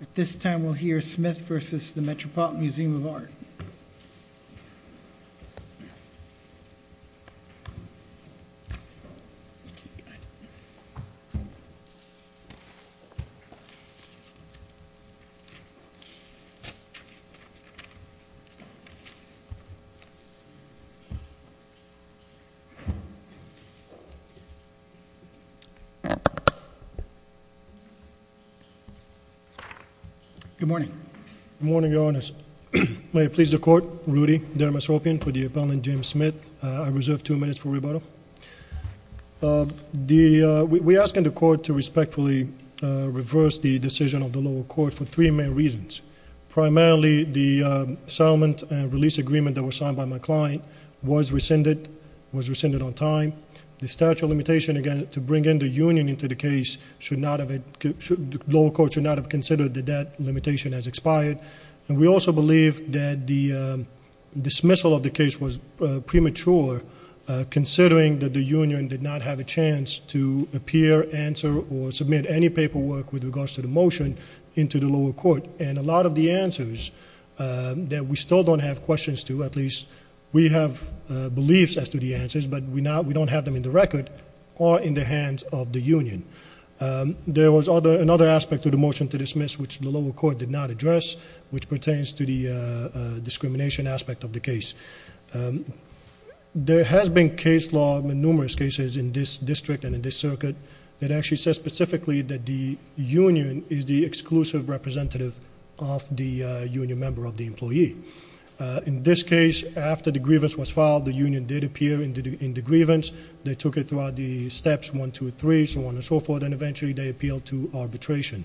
At this time, we'll hear Smith v. The Metropolitan Museum of Art. Good morning. Good morning, Your Honor. May it please the Court, Rudy Dermosropian for the appellant, James Smith. I reserve two minutes for rebuttal. We're asking the Court to respectfully reverse the decision of the lower court for three main reasons. Primarily, the settlement and release agreement that was signed by my client was rescinded on time. The statute of limitation, again, to bring in the union into the case, the lower court should not have considered that that limitation has expired. And we also believe that the dismissal of the case was premature, considering that the union did not have a chance to appear, answer, or submit any paperwork with regards to the motion into the lower court. And a lot of the answers that we still don't have questions to, at least we have beliefs as to the answers, but we don't have them in the record or in the hands of the union. There was another aspect to the motion to dismiss which the lower court did not address, which pertains to the discrimination aspect of the case. There has been case law, numerous cases in this district and in this circuit, that actually says specifically that the union is the exclusive representative of the union member of the employee. In this case, after the grievance was filed, the union did appear in the grievance. They took it throughout the steps one, two, three, so on and so forth, and eventually they appealed to arbitration.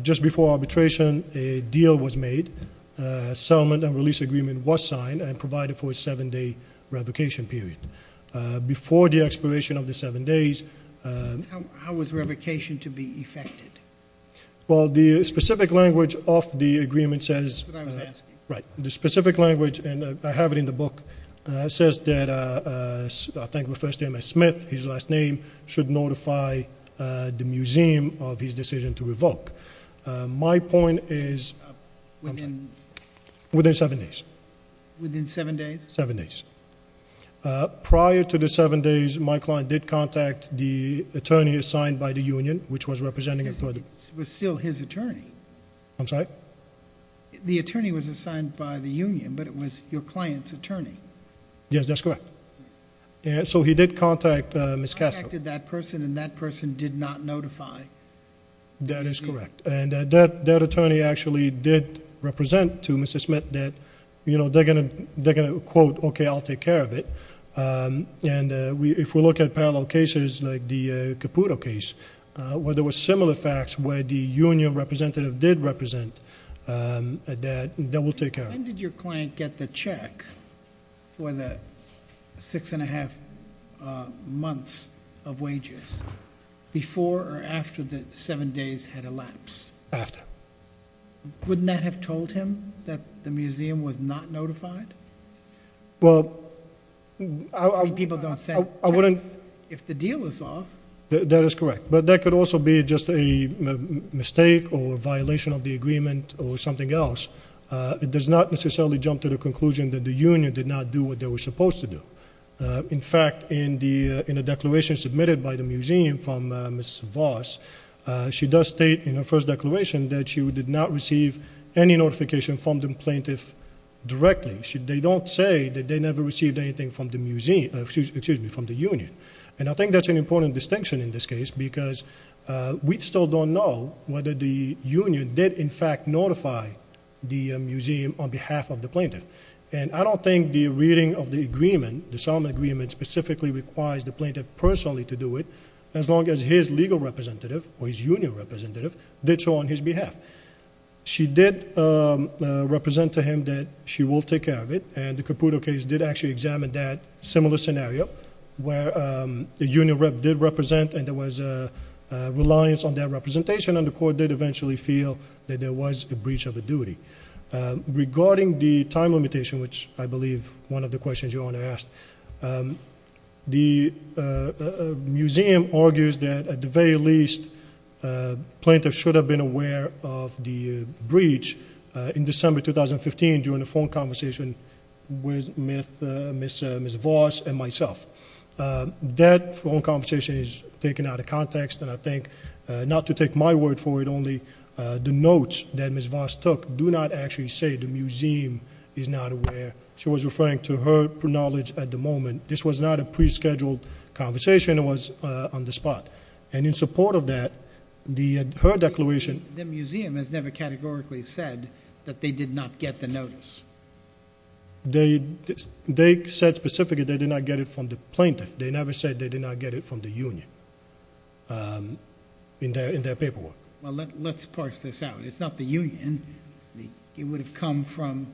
Just before arbitration, a deal was made. A settlement and release agreement was signed and provided for a seven-day revocation period. Before the expiration of the seven days- How was revocation to be effected? Well, the specific language of the agreement says- The specific language, and I have it in the book, says that I think it refers to him as Smith. His last name should notify the museum of his decision to revoke. My point is- Within- Within seven days. Within seven days? Seven days. Prior to the seven days, my client did contact the attorney assigned by the union, which was representing- It was still his attorney. I'm sorry? The attorney was assigned by the union, but it was your client's attorney. Yes, that's correct. So he did contact Ms. Castro. He contacted that person, and that person did not notify- That is correct. That attorney actually did represent to Mr. Smith that they're going to quote, okay, I'll take care of it. If we look at parallel cases like the Caputo case, where there were similar facts where the union representative did represent, that we'll take care of. When did your client get the check for the six and a half months of wages? Before or after the seven days had elapsed? After. Wouldn't that have told him that the museum was not notified? Well, I wouldn't- People don't send checks if the deal is off. That is correct, but that could also be just a mistake or a violation of the agreement or something else. It does not necessarily jump to the conclusion that the union did not do what they were supposed to do. In fact, in a declaration submitted by the museum from Ms. Voss, she does state in her first declaration that she did not receive any notification from the plaintiff directly. They don't say that they never received anything from the union. I think that's an important distinction in this case, because we still don't know whether the union did, in fact, notify the museum on behalf of the plaintiff. I don't think the reading of the agreement, the settlement agreement, specifically requires the plaintiff personally to do it, as long as his legal representative or his union representative did so on his behalf. She did represent to him that she will take care of it, and the Caputo case did actually examine that similar scenario, where the union rep did represent and there was a reliance on their representation, and the court did eventually feel that there was a breach of a duty. Regarding the time limitation, which I believe one of the questions your Honor asked, the museum argues that at the very least, plaintiff should have been aware of the breach in December 2015 during a phone conversation with Ms. Voss and myself. That phone conversation is taken out of context, and I think, not to take my word for it, only the notes that Ms. Voss took do not actually say the museum is not aware. She was referring to her knowledge at the moment. This was not a pre-scheduled conversation. It was on the spot, and in support of that, her declaration- The museum has never categorically said that they did not get the notice. They said specifically they did not get it from the plaintiff. They never said they did not get it from the union in their paperwork. Well, let's parse this out. It's not the union. It would have come from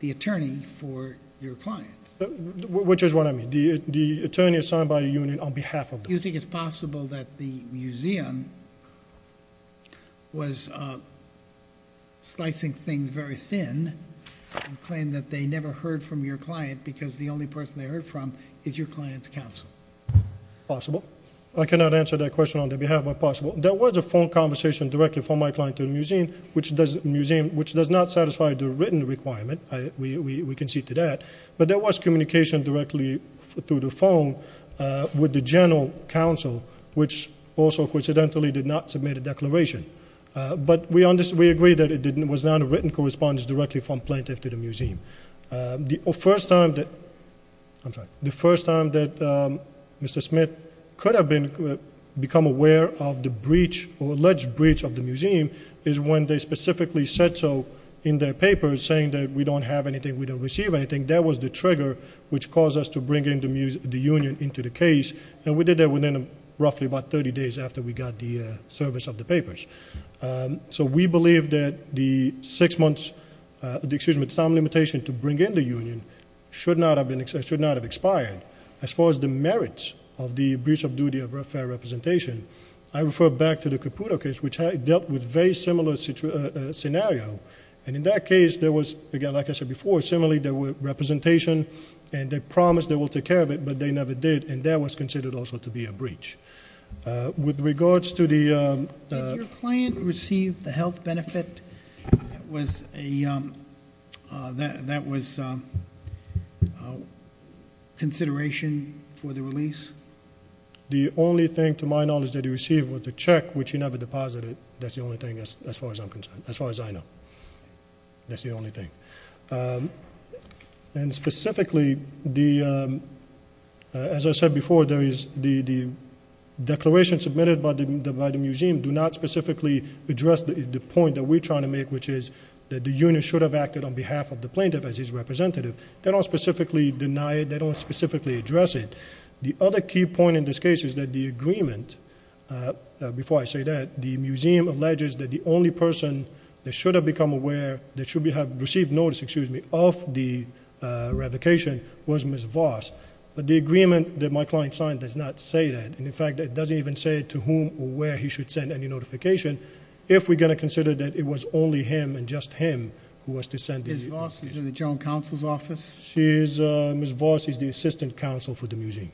the attorney for your client. Which is what I mean. The attorney assigned by the union on behalf of them. You think it's possible that the museum was slicing things very thin, and claimed that they never heard from your client because the only person they heard from is your client's counsel? Possible. I cannot answer that question on their behalf, but possible. There was a phone conversation directly from my client to the museum, which does not satisfy the written requirement. We can see to that. But there was communication directly through the phone with the general counsel, which also coincidentally did not submit a declaration. But we agree that it was not a written correspondence directly from plaintiff to the museum. The first time that Mr. Smith could have become aware of the breach or alleged breach of the museum is when they specifically said so in their papers, saying that we don't have anything, we don't receive anything. That was the trigger which caused us to bring the union into the case. And we did that within roughly about 30 days after we got the service of the papers. So we believe that the time limitation to bring in the union should not have expired. As far as the merits of the breach of duty of fair representation, I refer back to the Caputo case, which dealt with a very similar scenario. And in that case, there was, again, like I said before, similarly there was representation, and they promised they would take care of it, but they never did. And that was considered also to be a breach. With regards to the- Did your client receive the health benefit that was consideration for the release? The only thing to my knowledge that he received was a check, which he never deposited. That's the only thing as far as I'm concerned, as far as I know. That's the only thing. And specifically, as I said before, the declaration submitted by the museum do not specifically address the point that we're trying to make, which is that the union should have acted on behalf of the plaintiff as his representative. They don't specifically deny it. They don't specifically address it. The other key point in this case is that the agreement, before I say that, the museum alleges that the only person that should have become aware, that should have received notice, excuse me, of the revocation was Ms. Voss. But the agreement that my client signed does not say that. And, in fact, it doesn't even say to whom or where he should send any notification if we're going to consider that it was only him and just him who was to send the- Ms. Voss is in the general counsel's office? Ms. Voss is the assistant counsel for the museum.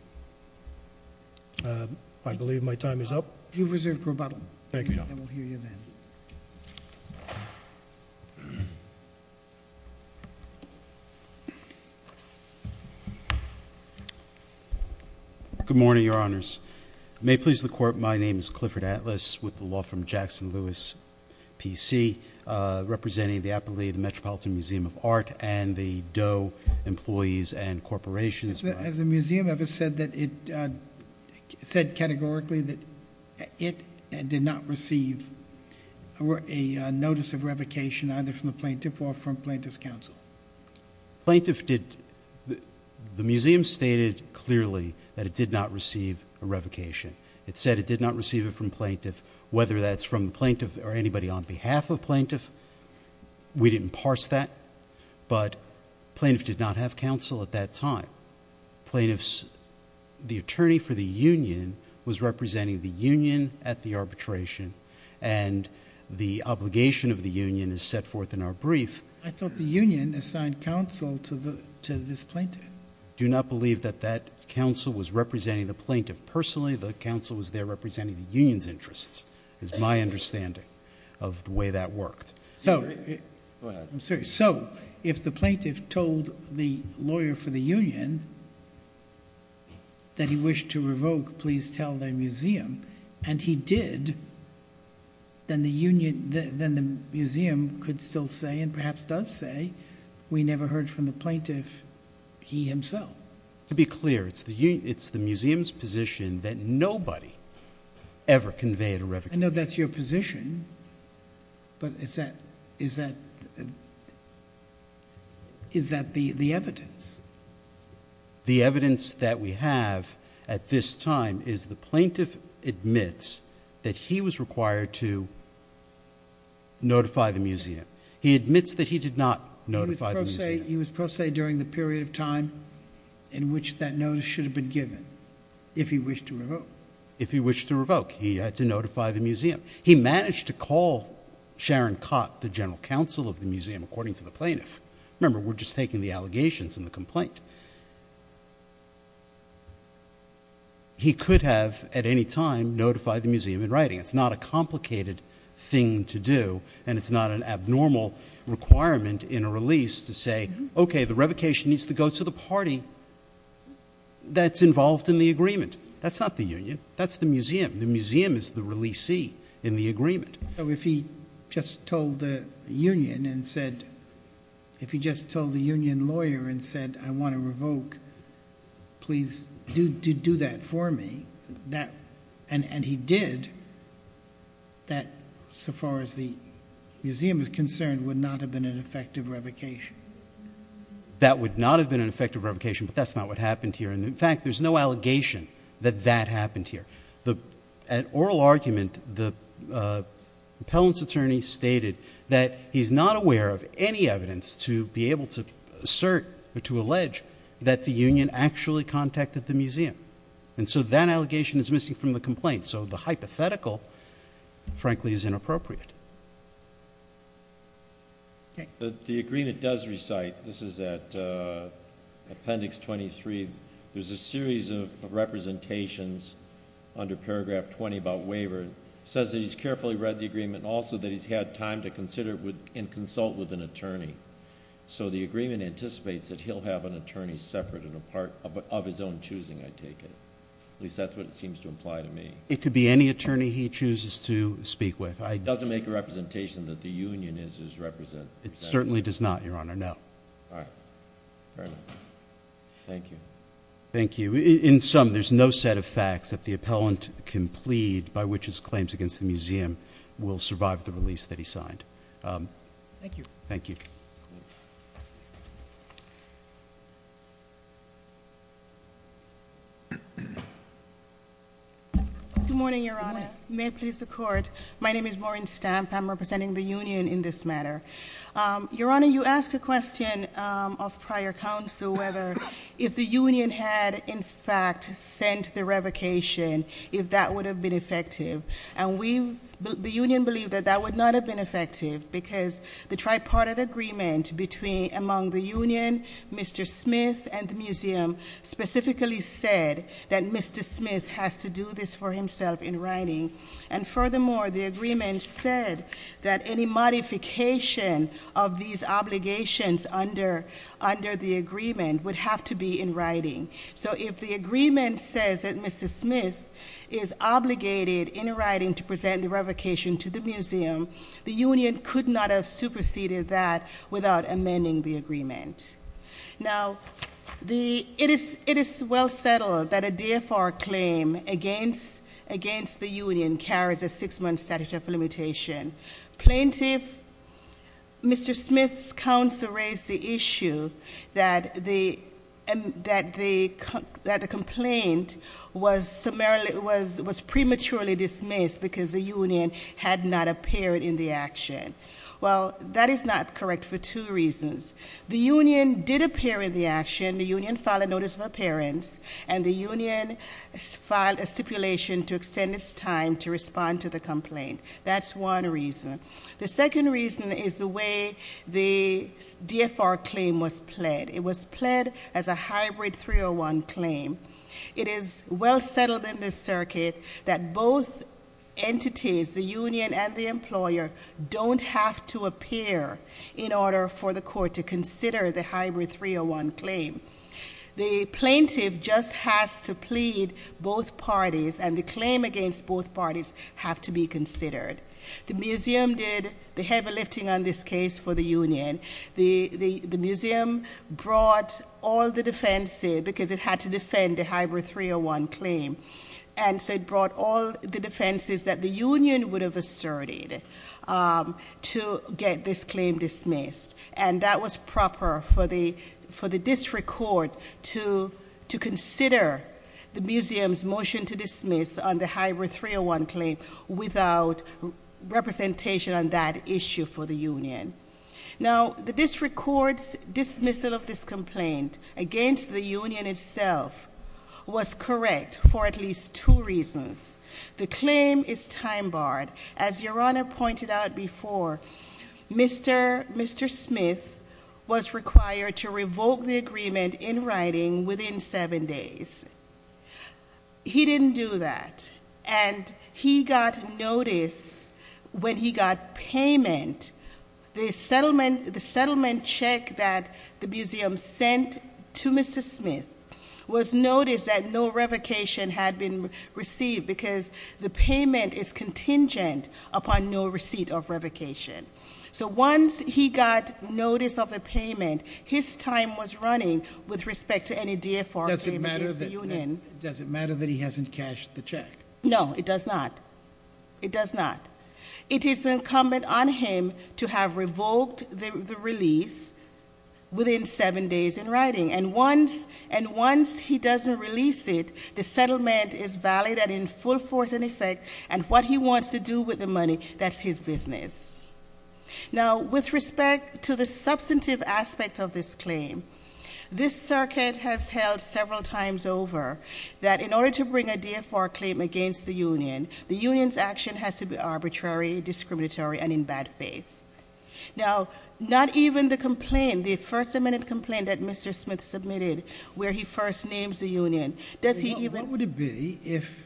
I believe my time is up. Thank you, Your Honor. And we'll hear you then. Good morning, Your Honors. May it please the Court, my name is Clifford Atlas with the law firm Jackson-Lewis PC, representing the Appalachian Metropolitan Museum of Art and the Doe Employees and Corporations. Has the museum ever said categorically that it did not receive a notice of revocation either from the plaintiff or from plaintiff's counsel? Plaintiff did-the museum stated clearly that it did not receive a revocation. It said it did not receive it from plaintiff, whether that's from the plaintiff or anybody on behalf of plaintiff. We didn't parse that. But plaintiff did not have counsel at that time. Plaintiff's-the attorney for the union was representing the union at the arbitration, and the obligation of the union is set forth in our brief. I thought the union assigned counsel to this plaintiff. I do not believe that that counsel was representing the plaintiff personally. The counsel was there representing the union's interests is my understanding of the way that worked. So- Go ahead. I'm sorry. So if the plaintiff told the lawyer for the union that he wished to revoke, please tell the museum, and he did, then the museum could still say and perhaps does say we never heard from the plaintiff, he himself. To be clear, it's the museum's position that nobody ever conveyed a revocation. I know that's your position, but is that the evidence? The evidence that we have at this time is the plaintiff admits that he was required to notify the museum. He admits that he did not notify the museum. He was pro se during the period of time in which that notice should have been given if he wished to revoke. He had to notify the museum. He managed to call Sharon Cott, the general counsel of the museum, according to the plaintiff. Remember, we're just taking the allegations and the complaint. He could have at any time notified the museum in writing. It's not a complicated thing to do, and it's not an abnormal requirement in a release to say, okay, the revocation needs to go to the party that's involved in the agreement. That's not the union. That's the museum. The museum is the releasee in the agreement. So if he just told the union and said, if he just told the union lawyer and said, I want to revoke, please do that for me, and he did, that so far as the museum is concerned would not have been an effective revocation. That would not have been an effective revocation, but that's not what happened here. In fact, there's no allegation that that happened here. An oral argument, the appellant's attorney stated that he's not aware of any evidence to be able to assert or to allege that the union actually contacted the museum. And so that allegation is missing from the complaint. So the hypothetical, frankly, is inappropriate. Okay. The agreement does recite, this is at Appendix 23, there's a series of representations under Paragraph 20 about waiver. It says that he's carefully read the agreement and also that he's had time to consider and consult with an attorney. So the agreement anticipates that he'll have an attorney separate and a part of his own choosing, I take it. At least that's what it seems to imply to me. It could be any attorney he chooses to speak with. It doesn't make a representation that the union is his representative. It certainly does not, Your Honor, no. All right. Fair enough. Thank you. Thank you. In sum, there's no set of facts that the appellant can plead by which his claims against the museum will survive the release that he signed. Thank you. Good morning, Your Honor. May it please the Court. My name is Maureen Stamp. I'm representing the union in this matter. Your Honor, you asked a question of prior counsel whether if the union had, in fact, sent the revocation, if that would have been effective. And the union believed that that would not have been effective because the tripartite agreement among the union, Mr. Smith, and the museum specifically said that Mr. Smith has to do this for himself in writing. And furthermore, the agreement said that any modification of these obligations under the agreement would have to be in writing. So if the agreement says that Mr. Smith is obligated in writing to present the revocation to the museum, the union could not have superseded that without amending the agreement. Now, it is well settled that a DFR claim against the union carries a six-month statute of limitation. Plaintiff, Mr. Smith's counsel raised the issue that the complaint was prematurely dismissed because the union had not appeared in the action. Well, that is not correct for two reasons. The union did appear in the action, the union filed a notice of appearance, and the union filed a stipulation to extend its time to respond to the complaint. That's one reason. The second reason is the way the DFR claim was pled. It was pled as a hybrid 301 claim. It is well settled in this circuit that both entities, the union and the employer, don't have to appear in order for the court to consider the hybrid 301 claim. The plaintiff just has to plead both parties, and the claim against both parties have to be considered. The museum did the heavy lifting on this case for the union. The museum brought all the defenses because it had to defend the hybrid 301 claim. And so it brought all the defenses that the union would have asserted to get this claim dismissed. And that was proper for the district court to consider the museum's motion to dismiss on the hybrid 301 claim without representation on that issue for the union. Now, the district court's dismissal of this complaint against the union itself was correct for at least two reasons. The claim is time barred. As your honor pointed out before, Mr. Smith was required to revoke the agreement in writing within seven days. He didn't do that, and he got notice when he got payment. The settlement check that the museum sent to Mr. Smith was noticed that no revocation had been received because the payment is contingent upon no receipt of revocation. So once he got notice of the payment, his time was running with respect to any DFR payment against the union. Does it matter that he hasn't cashed the check? No, it does not. It does not. It is incumbent on him to have revoked the release within seven days in writing. And once he doesn't release it, the settlement is valid and in full force and effect, and what he wants to do with the money, that's his business. Now, with respect to the substantive aspect of this claim, this circuit has held several times over that in order to bring a DFR claim against the union, the union's action has to be arbitrary, discriminatory, and in bad faith. Now, not even the complaint, the first amendment complaint that Mr. Smith submitted, where he first names the union. Does he even- What would it be if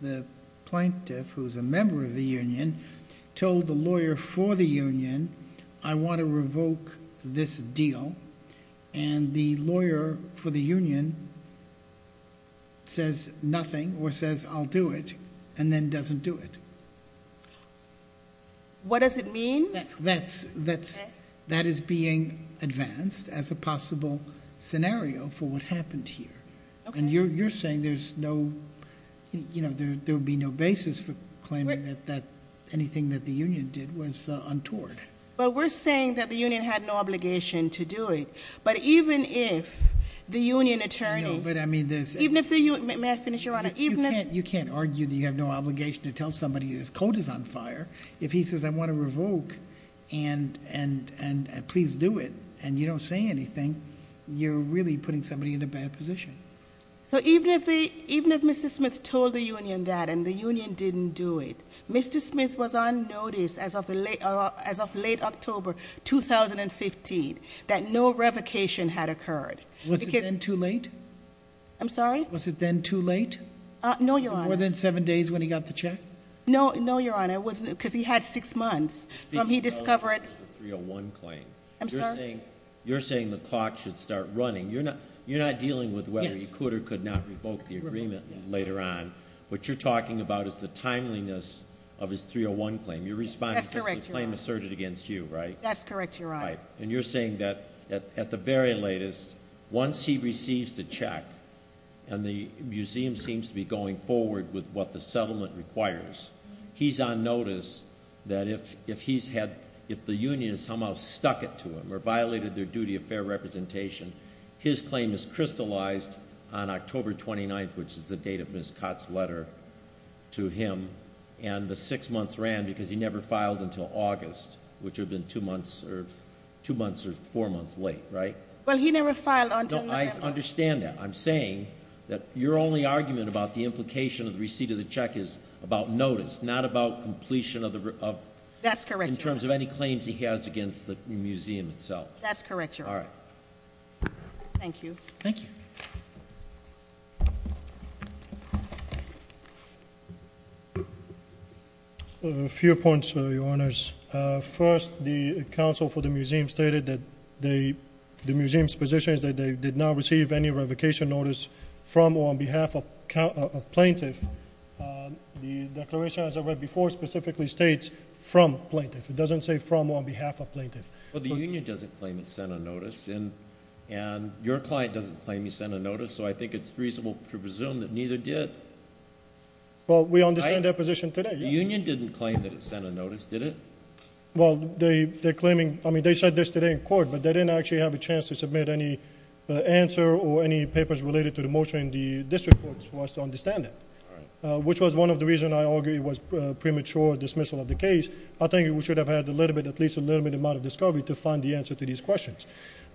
the plaintiff, who's a member of the union, told the lawyer for the union, I want to revoke this deal. And the lawyer for the union says nothing or says I'll do it, and then doesn't do it. What does it mean? That is being advanced as a possible scenario for what happened here. And you're saying there would be no basis for claiming that anything that the union did was untoward. Well, we're saying that the union had no obligation to do it. But even if the union attorney- No, but I mean there's- Even if the union, may I finish, Your Honor? You can't argue that you have no obligation to tell somebody his coat is on fire. If he says I want to revoke and please do it, and you don't say anything, you're really putting somebody in a bad position. So even if Mr. Smith told the union that and the union didn't do it, Mr. Smith was on notice as of late October 2015 that no revocation had occurred. Because- Was it then too late? I'm sorry? Was it then too late? No, Your Honor. More than seven days when he got the check? No, Your Honor, it wasn't, because he had six months from he discovered- You're saying the clock should start running. You're not dealing with whether he could or could not revoke the agreement later on. What you're talking about is the timeliness of his 301 claim. You're responding to the claim asserted against you, right? That's correct, Your Honor. And you're saying that at the very latest, once he receives the check, and the museum seems to be going forward with what the settlement requires, he's on notice that if the union has somehow stuck it to him or violated their duty of fair representation, his claim is crystallized on October 29th, which is the date of Ms. Cott's letter to him, and the six months ran because he never filed until two months or four months late, right? Well, he never filed until- I understand that. I'm saying that your only argument about the implication of the receipt of the check is about notice, not about completion of the- That's correct, Your Honor. In terms of any claims he has against the museum itself. That's correct, Your Honor. All right. Thank you. Thank you. A few points, Your Honors. First, the counsel for the museum stated that the museum's position is that they did not receive any revocation notice from or on behalf of plaintiff. The declaration, as I read before, specifically states from plaintiff. It doesn't say from or on behalf of plaintiff. Well, the union doesn't claim it sent a notice, and your client doesn't claim he sent a notice, so I think it's reasonable to presume that neither did. Well, we understand their position today. The union didn't claim that it sent a notice, did it? Well, they said this today in court, but they didn't actually have a chance to submit any answer or any papers related to the motion in the district courts for us to understand that. Which was one of the reasons I argue it was premature dismissal of the case. I think we should have had at least a limited amount of discovery to find the answer to these questions.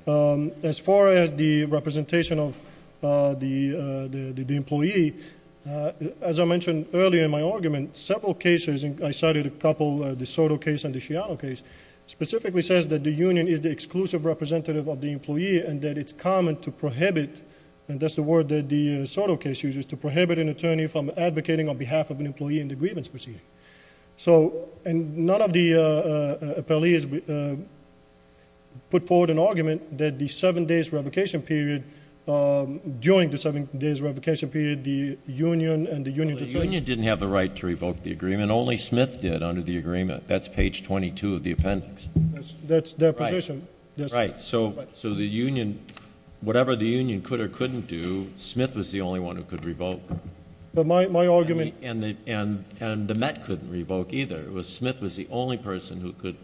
As far as the representation of the employee, as I mentioned earlier in my argument, several cases, and I cited a couple, the Soto case and the Shiano case. Specifically says that the union is the exclusive representative of the employee and that it's common to prohibit, and that's the word that the Soto case uses, to prohibit an attorney from advocating on behalf of an employee in the grievance proceeding. So, and none of the appellees put forward an argument that the seven days revocation period, during the seven days revocation period, the union and the union- The union didn't have the right to revoke the agreement. Only Smith did under the agreement. That's page 22 of the appendix. That's their position. Right, so the union, whatever the union could or couldn't do, Smith was the only one who could revoke. But my argument- And the Met couldn't revoke either. It was Smith was the only person who could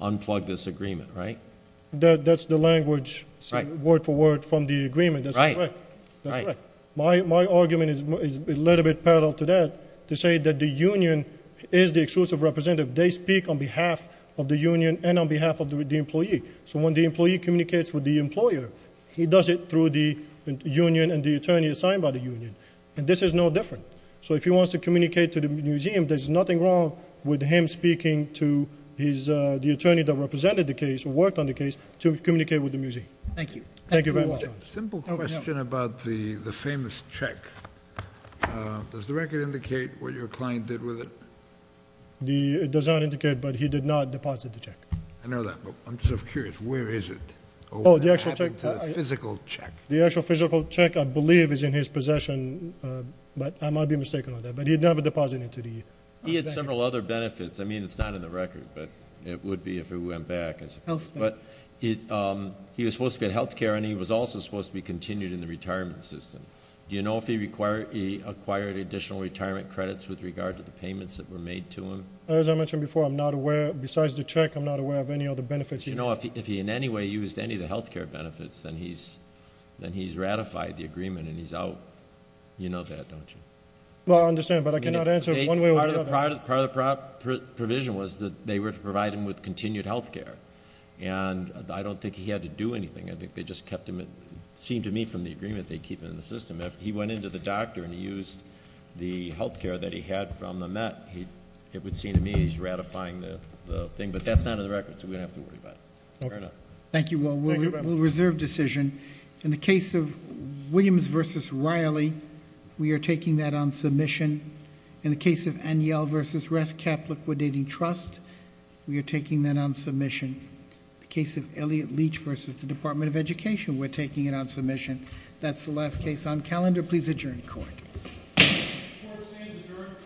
unplug this agreement, right? That's the language, word for word, from the agreement. That's correct. My argument is a little bit parallel to that, to say that the union is the exclusive representative. They speak on behalf of the union and on behalf of the employee. So when the employee communicates with the employer, he does it through the union and the attorney assigned by the union. And this is no different. So if he wants to communicate to the museum, there's nothing wrong with him speaking to the attorney that represented the case, who worked on the case, to communicate with the museum. Thank you. Thank you very much. Simple question about the famous check. Does the record indicate what your client did with it? It does not indicate, but he did not deposit the check. I know that, but I'm just curious, where is it? The actual physical check. The actual physical check, I believe, is in his possession, but I might be mistaken on that. But he'd never deposited it to the bank. He had several other benefits. I mean, it's not in the record, but it would be if it went back, I suppose. But he was supposed to be in health care, and he was also supposed to be continued in the retirement system. Do you know if he acquired additional retirement credits with regard to the payments that were made to him? As I mentioned before, I'm not aware, besides the check, I'm not aware of any other benefits. You know, if he in any way used any of the health care benefits, then he's ratified the agreement and he's out. You know that, don't you? Part of the provision was that they were to provide him with continued health care. And I don't think he had to do anything. I think they just kept him, it seemed to me, from the agreement they keep in the system. If he went into the doctor and he used the health care that he had from the MET, it would seem to me he's ratifying the thing. But that's not in the record, so we don't have to worry about it. Fair enough. Thank you, we'll reserve decision. In the case of Williams versus Riley, we are taking that on submission. In the case of Aniel versus Rest Cap Liquidating Trust, we are taking that on submission. The case of Elliot Leach versus the Department of Education, we're taking it on submission. That's the last case on calendar. Please adjourn court. Court stands adjourned.